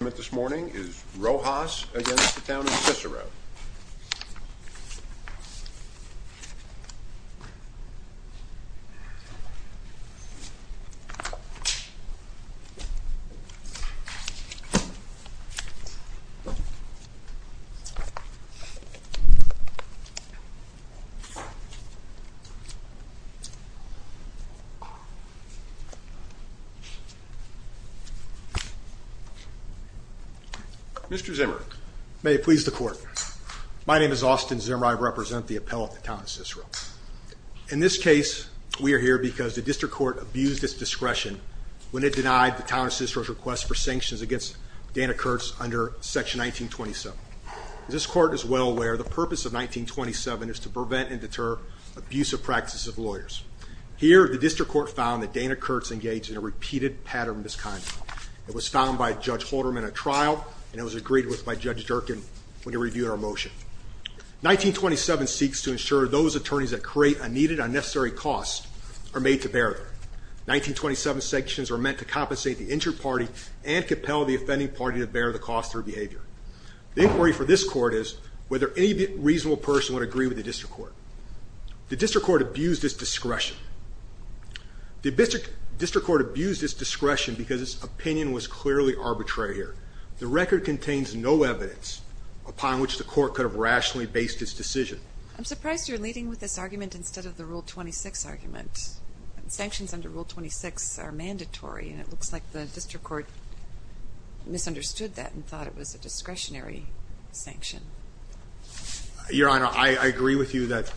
this morning is Rojas against the Town of Cicero. Mr. Zimmer. May it please the court. My name is Austin Zimmer. I represent the appellate of the Town of Cicero. In this case we are here because the district court abused its discretion when it denied the Town of Cicero's request for sanctions against Dana Kurtz under section 1927. This court is well aware the purpose of 1927 is to prevent and deter abusive practices of lawyers. Here the district court found that Dana Kurtz engaged in a repeated pattern of misconduct. It was found by Judge Halderman at trial and it was agreed with by Judge Durkin when he reviewed our motion. 1927 seeks to ensure those attorneys that create a needed unnecessary cost are made to bear. 1927 sanctions are meant to compensate the injured party and compel the offending party to bear the cost of their behavior. The inquiry for this court is whether any reasonable person would agree with the district court. The district court abused its discretion. The district court abused its discretion because its opinion was clearly arbitrary here. The record contains no evidence upon which the court could have rationally based its decision. I'm surprised you're leading with this argument instead of the Rule 26 argument. Sanctions under Rule 26 are mandatory and it looks like the district court misunderstood that and thought it was a discretionary sanction. Your Honor, I agree with you that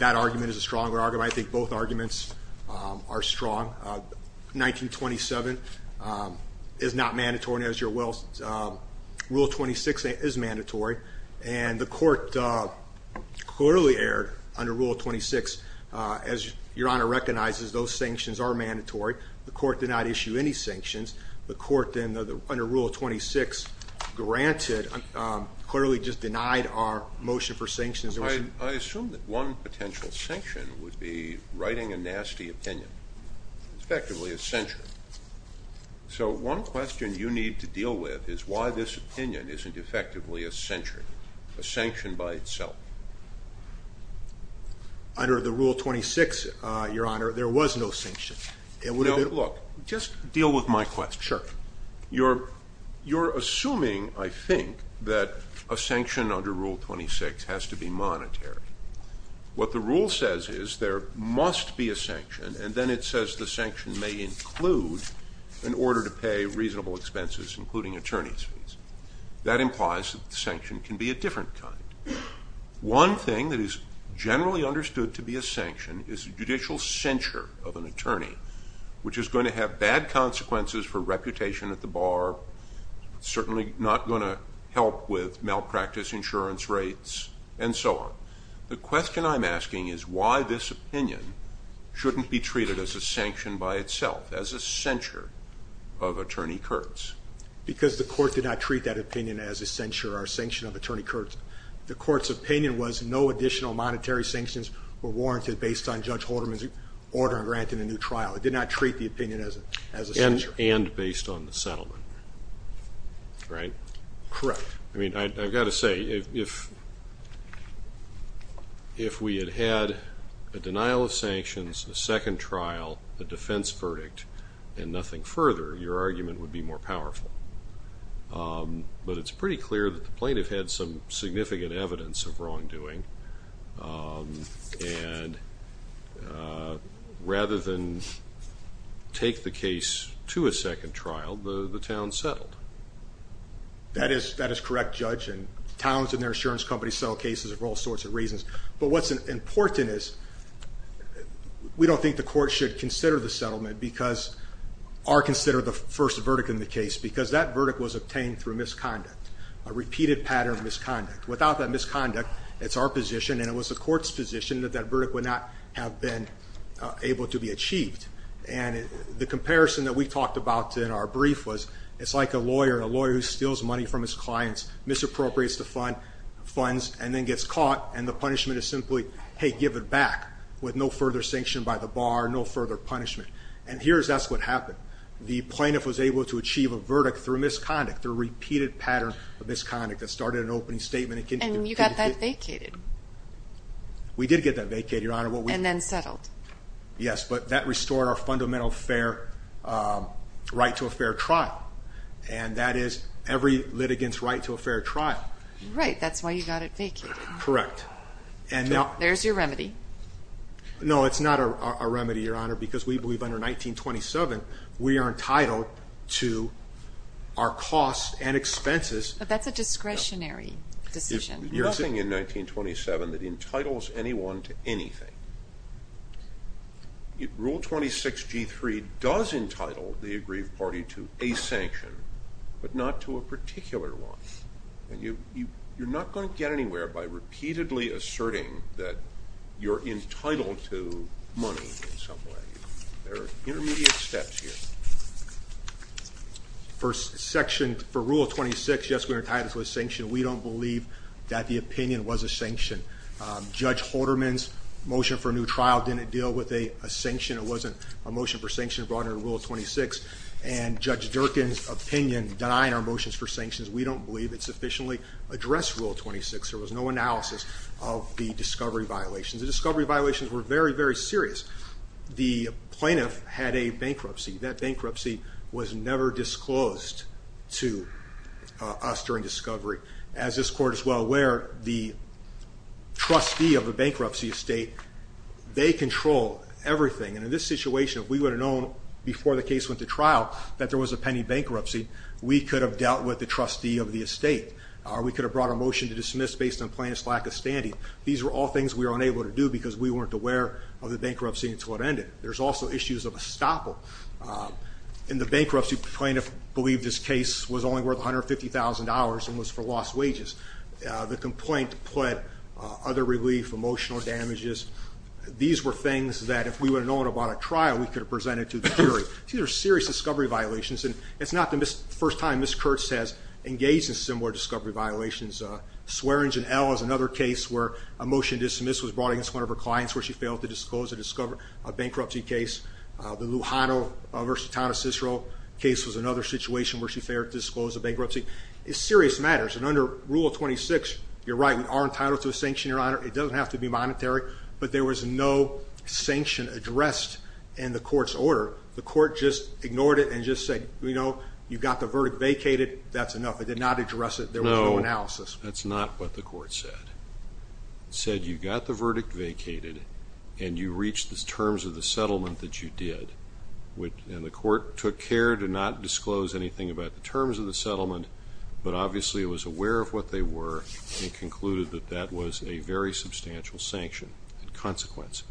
argument is a stronger argument. I think both arguments are strong. 1927 is not mandatory. Rule 26 is mandatory and the court clearly erred under Rule 26. As Your Honor recognizes, those sanctions are mandatory. The court did not issue any sanctions. The court then under Rule 26 granted clearly just that one potential sanction would be writing a nasty opinion, effectively a censure. So one question you need to deal with is why this opinion isn't effectively a censure, a sanction by itself. Under the Rule 26, Your Honor, there was no sanction. Look, just deal with my question. You're assuming, I to be monetary. What the rule says is there must be a sanction and then it says the sanction may include an order to pay reasonable expenses, including attorney's fees. That implies that the sanction can be a different kind. One thing that is generally understood to be a sanction is a judicial censure of an attorney, which is going to have bad consequences for reputation at the bar, certainly not going to help with malpractice insurance rates, and so on. The question I'm asking is why this opinion shouldn't be treated as a sanction by itself, as a censure of attorney Kurtz? Because the court did not treat that opinion as a censure or sanction of attorney Kurtz. The court's opinion was no additional monetary sanctions were warranted based on Judge Halderman's order and grant in a new trial. It did not treat the opinion as a sanction. And based on the settlement, right? Correct. I mean, I've got to say, if we had had a denial of sanctions, a second trial, a defense verdict, and nothing further, your argument would be more powerful. But it's pretty clear that the plaintiff had some significant evidence of wrongdoing, and rather than take the case to a second trial, the town settled. That is correct, Judge, and towns and their insurance companies settle cases for all sorts of reasons. But what's important is, we don't think the court should consider the settlement because, or consider the first verdict in the case, because that verdict was obtained through misconduct, a repeated pattern of misconduct. Without that misconduct, it's our position, and it was the court's position that that verdict would not have been able to be And what we talked about in our brief was, it's like a lawyer, a lawyer who steals money from his clients, misappropriates the funds, and then gets caught, and the punishment is simply, hey, give it back, with no further sanction by the bar, no further punishment. And here, that's what happened. The plaintiff was able to achieve a verdict through misconduct, the repeated pattern of misconduct that started an opening statement. And you got that vacated. We did get that vacated, Your Honor, and that is every litigant's right to a fair trial. Right, that's why you got it vacated. Correct. There's your remedy. No, it's not a remedy, Your Honor, because we believe under 1927, we are entitled to our costs and expenses. But that's a discretionary decision. There's nothing in 1927 that entitles anyone to anything. Rule 26 G3 does entitle the aggrieved party to a sanction, but not to a particular one. And you're not going to get anywhere by repeatedly asserting that you're entitled to money in some way. There are intermediate steps here. For Rule 26, yes, we are entitled to a sanction. We don't believe that the motion for a new trial didn't deal with a sanction. It wasn't a motion for sanction brought under Rule 26. And Judge Durkin's opinion denying our motions for sanctions, we don't believe it sufficiently addressed Rule 26. There was no analysis of the discovery violations. The discovery violations were very, very serious. The plaintiff had a bankruptcy. That bankruptcy was never disclosed to us during discovery. As this they control everything. And in this situation, if we would have known before the case went to trial that there was a pending bankruptcy, we could have dealt with the trustee of the estate. Or we could have brought a motion to dismiss based on plaintiff's lack of standing. These were all things we were unable to do because we weren't aware of the bankruptcy until it ended. There's also issues of estoppel. In the bankruptcy, the plaintiff believed this case was only worth $150,000 and was for lost wages. The complaint pled other relief, emotional damages. These were things that if we would have known about a trial, we could have presented to the jury. These are serious discovery violations and it's not the first time Ms. Kurtz has engaged in similar discovery violations. Swearingen L is another case where a motion to dismiss was brought against one of her clients where she failed to disclose a bankruptcy case. The Lujano v. Tana Cicero case was another situation where she failed to disclose a bankruptcy. It's under Rule 26. You're right. We are entitled to a sanction, Your Honor. It doesn't have to be monetary, but there was no sanction addressed in the court's order. The court just ignored it and just said, you know, you got the verdict vacated. That's enough. It did not address it. There was no analysis. That's not what the court said. It said you got the verdict vacated and you reached the terms of the settlement that you did. The court took care to not aware of what they were and concluded that that was a very substantial sanction and consequence.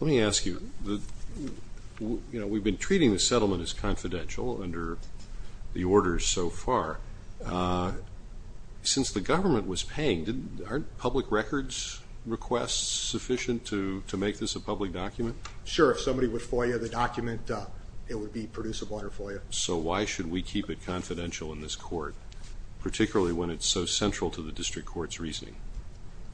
Let me ask you, you know, we've been treating the settlement as confidential under the orders so far. Since the government was paying, aren't public records requests sufficient to make this a public document? Sure. If somebody would FOIA the document, it would be producible under FOIA. So why should we keep it confidential in this court, particularly when it's so central to the district court's reasoning?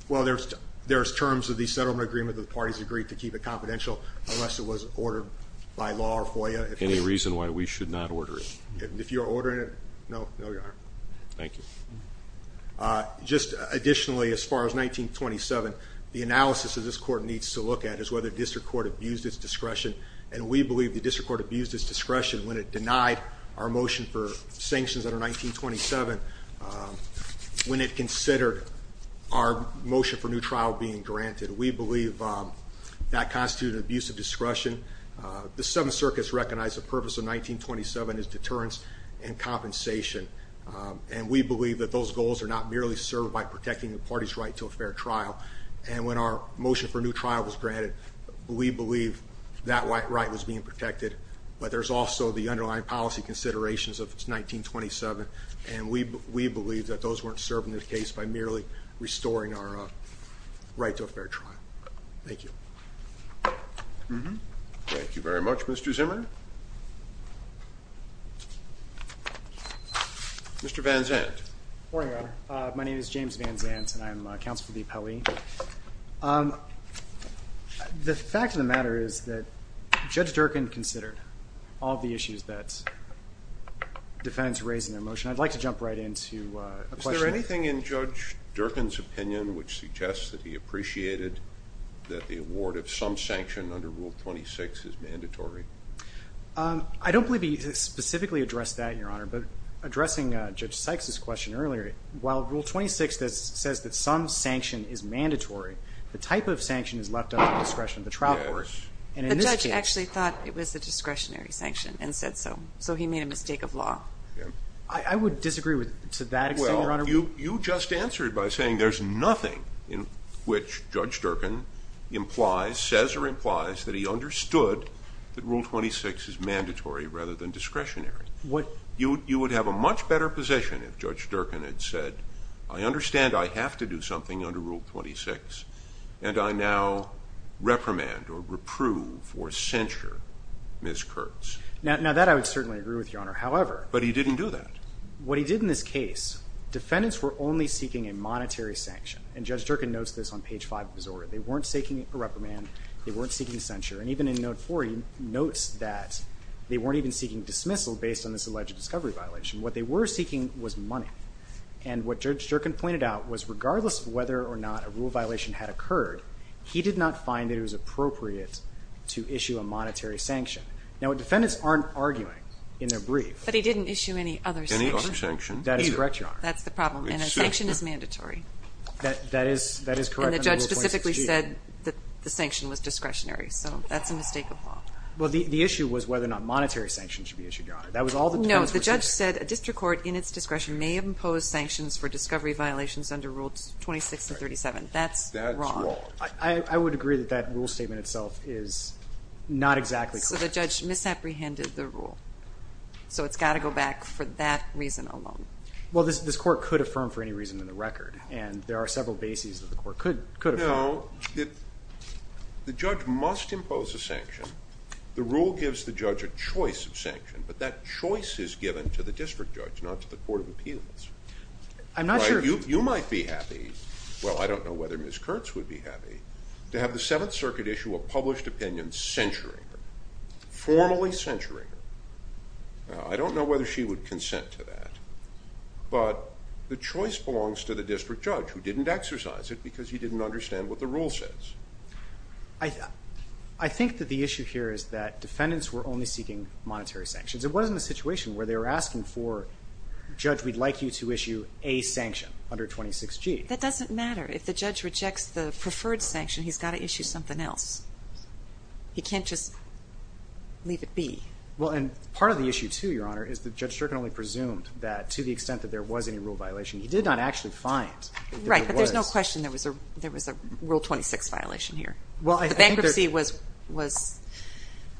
Well, there's terms of the settlement agreement that the parties agreed to keep it confidential unless it was ordered by law or FOIA. Any reason why we should not order it? If you're ordering it, no, Your Honor. Thank you. Just additionally, as far as 1927, the analysis that this court needs to look at is whether the district court abused its discretion. And we believe the district court abused its discretion when it denied our motion for sanctions under 1927. Um, when it considered our motion for new trial being granted, we believe, um, that constitute abusive discretion. The Seventh Circus recognized the purpose of 1927 is deterrence and compensation. Um, and we believe that those goals are not merely served by protecting the party's right to a fair trial. And when our motion for new trial was granted, we believe that white right was being protected. But there's also the underlying policy considerations of 1927, and we believe that those weren't serving the case by merely restoring our right to a fair trial. Thank you. Thank you very much, Mr Zimmer. Mr Van Zandt. Morning, Your Honor. My name is James Van Zandt, and I'm counsel for the appellee. Um, the fact of the matter is that Judge Durkin considered all the issues that defendants raised in their motion. I'd like to jump right into a question. Is there anything in Judge Durkin's opinion which suggests that he appreciated that the award of some sanction under Rule 26 is mandatory? Um, I don't believe he specifically addressed that, Your Honor. But addressing Judge Sykes's question earlier, while Rule 26 says that some sanction is mandatory, the type of sanction is left up to the discretion of the trial court. The judge actually thought it was the discretionary sanction and said so. So he made a mistake of law. I would disagree with, to that extent, Your Honor. Well, you just answered by saying there's nothing in which Judge Durkin implies, says or implies, that he understood that Rule 26 is mandatory rather than discretionary. What? You would have a much better position if Judge Durkin had said, I understand I have to do something under Rule 26, and I now reprimand or agree with, Your Honor. However... But he didn't do that. What he did in this case, defendants were only seeking a monetary sanction. And Judge Durkin notes this on page 5 of his order. They weren't seeking a reprimand. They weren't seeking censure. And even in note 4, he notes that they weren't even seeking dismissal based on this alleged discovery violation. What they were seeking was money. And what Judge Durkin pointed out was, regardless of whether or not a rule violation had occurred, he did not find that it was appropriate to issue a sanction in their brief. But he didn't issue any other sanction. That is correct, Your Honor. That's the problem. And a sanction is mandatory. That is correct. And the judge specifically said that the sanction was discretionary. So that's a mistake of law. Well, the issue was whether or not monetary sanctions should be issued, Your Honor. No, the judge said a district court, in its discretion, may impose sanctions for discovery violations under Rules 26 and 37. That's wrong. I would agree that that rule statement itself is not exactly correct. So the judge misapprehended the rule. So it's got to go back for that reason alone. Well, this court could affirm for any reason in the record. And there are several bases that the court could affirm. No, the judge must impose a sanction. The rule gives the judge a choice of sanction. But that choice is given to the district judge, not to the Court of Appeals. I'm not sure... You might be happy, well, I don't know whether Ms. Kurtz would be happy, to have the Seventh Circuit issue a published opinion censuring her, formally censuring her. I don't know whether she would consent to that. But the choice belongs to the district judge, who didn't exercise it because he didn't understand what the rule says. I think that the issue here is that defendants were only seeking monetary sanctions. It wasn't a situation where they were asking for, Judge, we'd like you to issue a sanction under 26G. That doesn't matter. If the judge rejects the preferred sanction, he's got to issue something else. He can't just leave it be. Well, and part of the issue, too, Your Honor, is that Judge Strickland only presumed that, to the extent that there was any rule violation, he did not actually find that there was. Right, but there's no question there was a Rule 26 violation here. Well, I think that... The bankruptcy was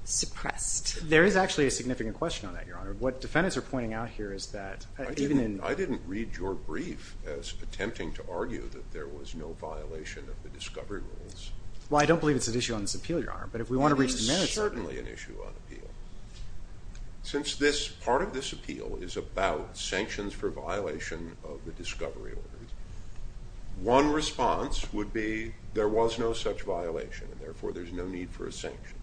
suppressed. There is actually a significant question on that, Your Honor. What defendants are pointing out here is that, even in... I didn't read your brief as attempting to argue that there was no violation of the discovery rules. Well, I don't believe it's an issue on this appeal, Your Honor, but if we want to reach the merits... It is certainly an issue on appeal. Since this, part of this appeal, is about sanctions for violation of the discovery orders, one response would be, there was no such violation, and therefore there's no need for a sanction.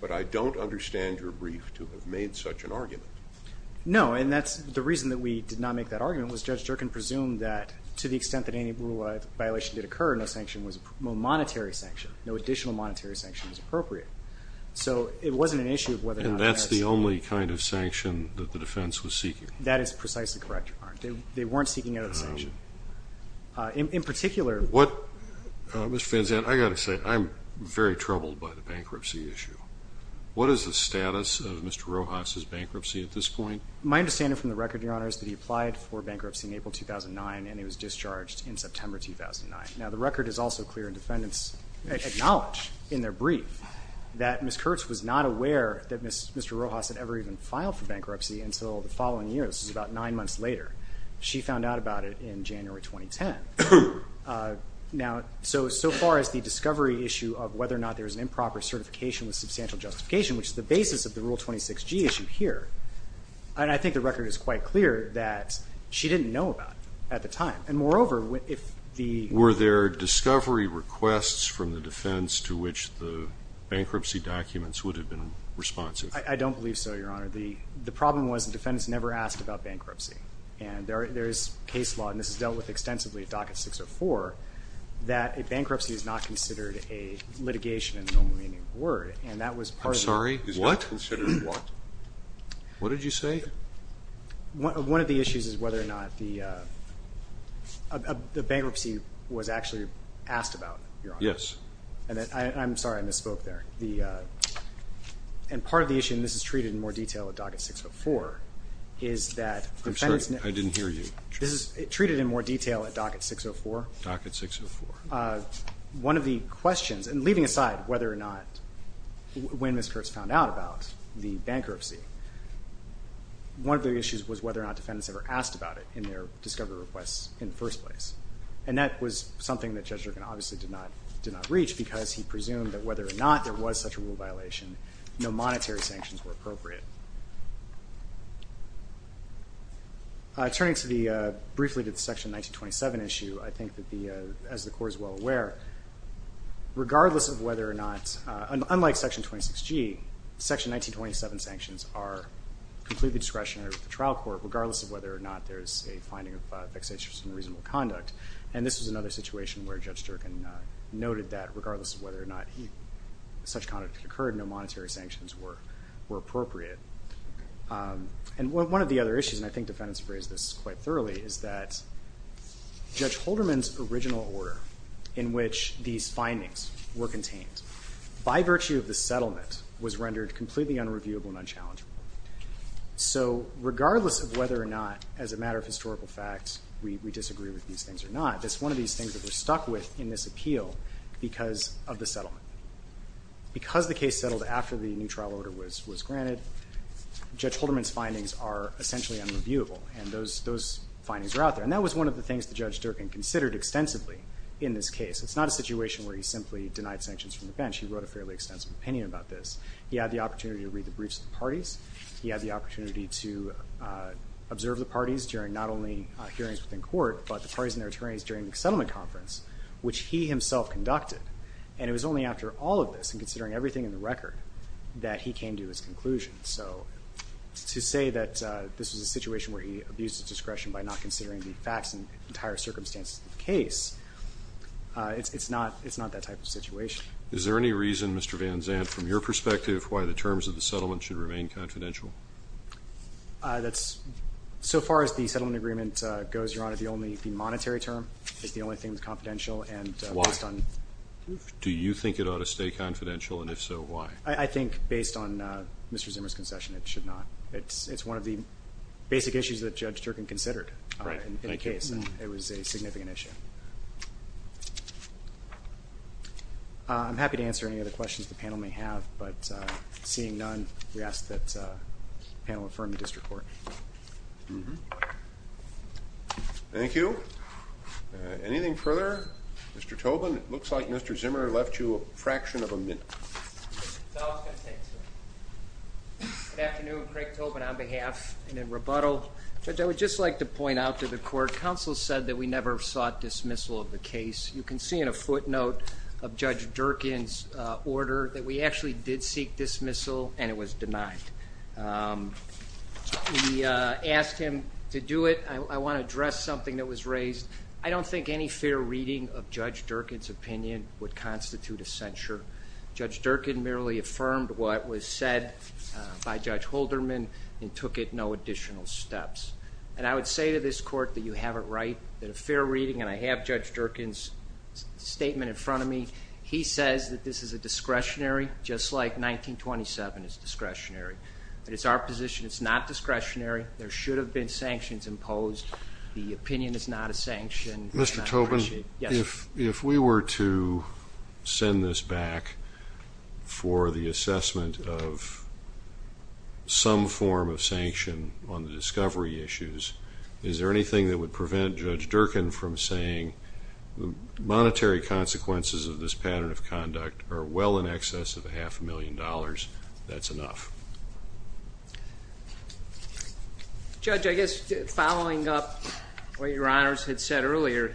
But I don't understand your brief to have made such an argument. No, and that's the reason that we did not make that argument, was Judge Strickland presumed that, to the extent that any rule violation did occur, no sanction was... no monetary sanction, no additional monetary sanction was appropriate. So it wasn't an issue of whether or not... And that's the only kind of sanction that the defense was seeking? That is precisely correct, Your Honor. They weren't seeking any sanction. In particular... What... Mr. Van Zandt, I gotta say, I'm very troubled by the bankruptcy issue. What is the status of Mr. Rojas's bankruptcy at this point? My understanding from the record, Your Honor, is that he applied for bankruptcy in April 2009, and he was discharged in September 2009. Now, the record is also clear, and defendants acknowledge in their brief that Ms. Kurtz was not aware that Mr. Rojas had ever even filed for bankruptcy until the following year. This is about nine months later. She found out about it in January 2010. Now, so, so far as the discovery issue of whether or not there's an improper certification with substantial justification, which is the basis of the Rule 26g issue here, and I think the record is quite clear that she didn't know about it at the time. And moreover, if the... Were there discovery requests from the defense to which the bankruptcy documents would have been responsive? I don't believe so, Your Honor. The, the problem was the defendants never asked about bankruptcy, and there, there's case law, and this is dealt with extensively at Docket 604, that a bankruptcy is not considered a litigation in the normal meaning of the word, and that was part of... I'm sorry, what? What did you say? One of the issues is whether or not the bankruptcy was actually asked about, Your Honor. Yes. And I'm sorry, I misspoke there. The, and part of the issue, and this is treated in more detail at Docket 604, is that... I'm sorry, I didn't hear you. This is treated in more detail at Docket 604. Docket 604. One of the questions, and leaving aside whether or not... When Ms. Kurtz found out about the bankruptcy, one of the issues was whether or not defendants ever asked about it in their discovery requests in the first place, and that was something that Judge Durkan obviously did not, did not reach, because he presumed that whether or not there was such a rule violation, no monetary sanctions were appropriate. Turning to the, briefly to the Section 1927 issue, I think that the, as the Court is well aware, regardless of whether or not, unlike Section 26G, Section 1927 sanctions are completely discretionary with the trial court, regardless of whether or not there's a finding of vexatious and unreasonable conduct, and this was another situation where Judge Durkan noted that regardless of whether or not such conduct had occurred, no monetary sanctions were, were appropriate. And one of the other issues, and I think defendants have raised this quite thoroughly, is that Judge Holderman's original order, in which these findings were contained, by virtue of the settlement, was rendered completely unreviewable and unchallengeable. So regardless of whether or not, as a matter of historical fact, we disagree with these things or not, it's one of these things that we're stuck with in this appeal because of the settlement. Because the case settled after the new trial order was, was granted, Judge Holderman's findings are out there. And that was one of the things that Judge Durkan considered extensively in this case. It's not a situation where he simply denied sanctions from the bench. He wrote a fairly extensive opinion about this. He had the opportunity to read the briefs of the parties. He had the opportunity to observe the parties during not only hearings within court, but the parties and their attorneys during the settlement conference, which he himself conducted. And it was only after all of this, and considering everything in the record, that he came to his conclusion. So to say that this was a situation where he abused his discretion by not considering the facts and entire circumstances of the case, it's not, it's not that type of situation. Is there any reason, Mr. Van Zandt, from your perspective, why the terms of the settlement should remain confidential? That's, so far as the settlement agreement goes, Your Honor, the only, the monetary term is the only thing that's confidential and... Why? Do you think it ought to stay confidential and if so, why? I think based on Mr. Zimmer's concession, it should not. It's, it's one of the basic issues that Judge Durkin considered in the case. It was a significant issue. I'm happy to answer any other questions the panel may have, but seeing none, we ask that panel affirm the district court. Thank you. Anything further? Mr. Tobin, it looks like Mr. Zimmer left you a fraction of a minute. Good afternoon, Craig Tobin on behalf and in rebuttal. Judge, I would just like to point out to the court, counsel said that we never sought dismissal of the case. You can see in a footnote of Judge Durkin's order that we actually did seek dismissal and it was denied. We asked him to do it. I want to address something that was raised. I don't think any fair reading of Judge Durkin's opinion would constitute a censure. Judge Durkin merely affirmed what was said by Judge Holderman and took it no additional steps. And I would say to this court that you have it right, that a fair reading, and I have Judge Durkin's statement in front of me, he says that this is a discretionary, just like 1927 is discretionary, but it's our position it's not discretionary. There should have been sanctions imposed. The send this back for the assessment of some form of sanction on the discovery issues. Is there anything that would prevent Judge Durkin from saying the monetary consequences of this pattern of conduct are well in excess of a half a million dollars, that's enough? Judge, I guess following up what your honors had said earlier,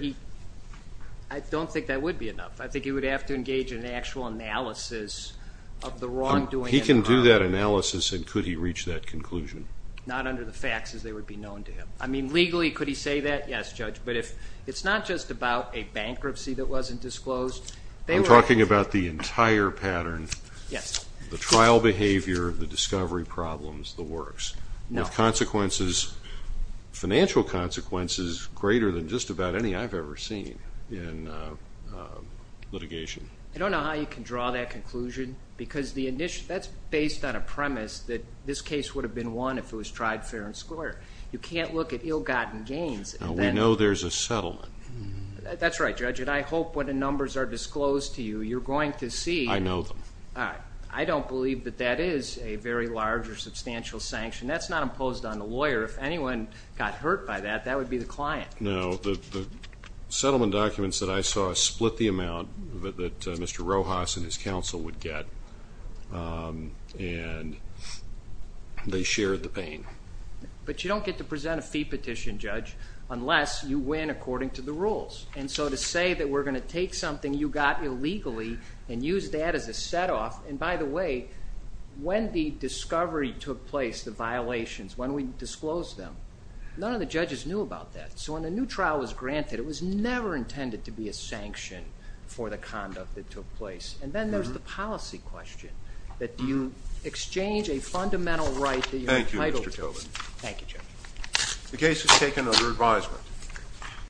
I don't think that would be enough. I think he would have to engage in actual analysis of the wrongdoing. He can do that analysis and could he reach that conclusion? Not under the facts as they would be known to him. I mean legally could he say that? Yes Judge, but if it's not just about a bankruptcy that wasn't disclosed. I'm talking about the entire pattern. Yes. The trial behavior, the discovery problems, the works. Now consequences, financial consequences greater than just about any I've ever seen in litigation. I don't know how you can draw that conclusion because that's based on a premise that this case would have been won if it was tried fair and square. You can't look at ill-gotten gains. We know there's a settlement. That's right Judge and I hope when the numbers are disclosed to you you're going to see. I know them. I don't believe that that is a very large or substantial sanction. That's not imposed on the lawyer. If the settlement documents that I saw split the amount that Mr. Rojas and his counsel would get and they shared the pain. But you don't get to present a fee petition Judge unless you win according to the rules and so to say that we're going to take something you got illegally and use that as a set off and by the way when the discovery took place, the violations, when we disclosed them none of the judges knew about that. So when a new trial was granted it was never intended to be a sanction for the conduct that took place and then there's the policy question that you exchange a fundamental right. Thank you Mr. Tobin. Thank you Judge. The case is taken under advisement.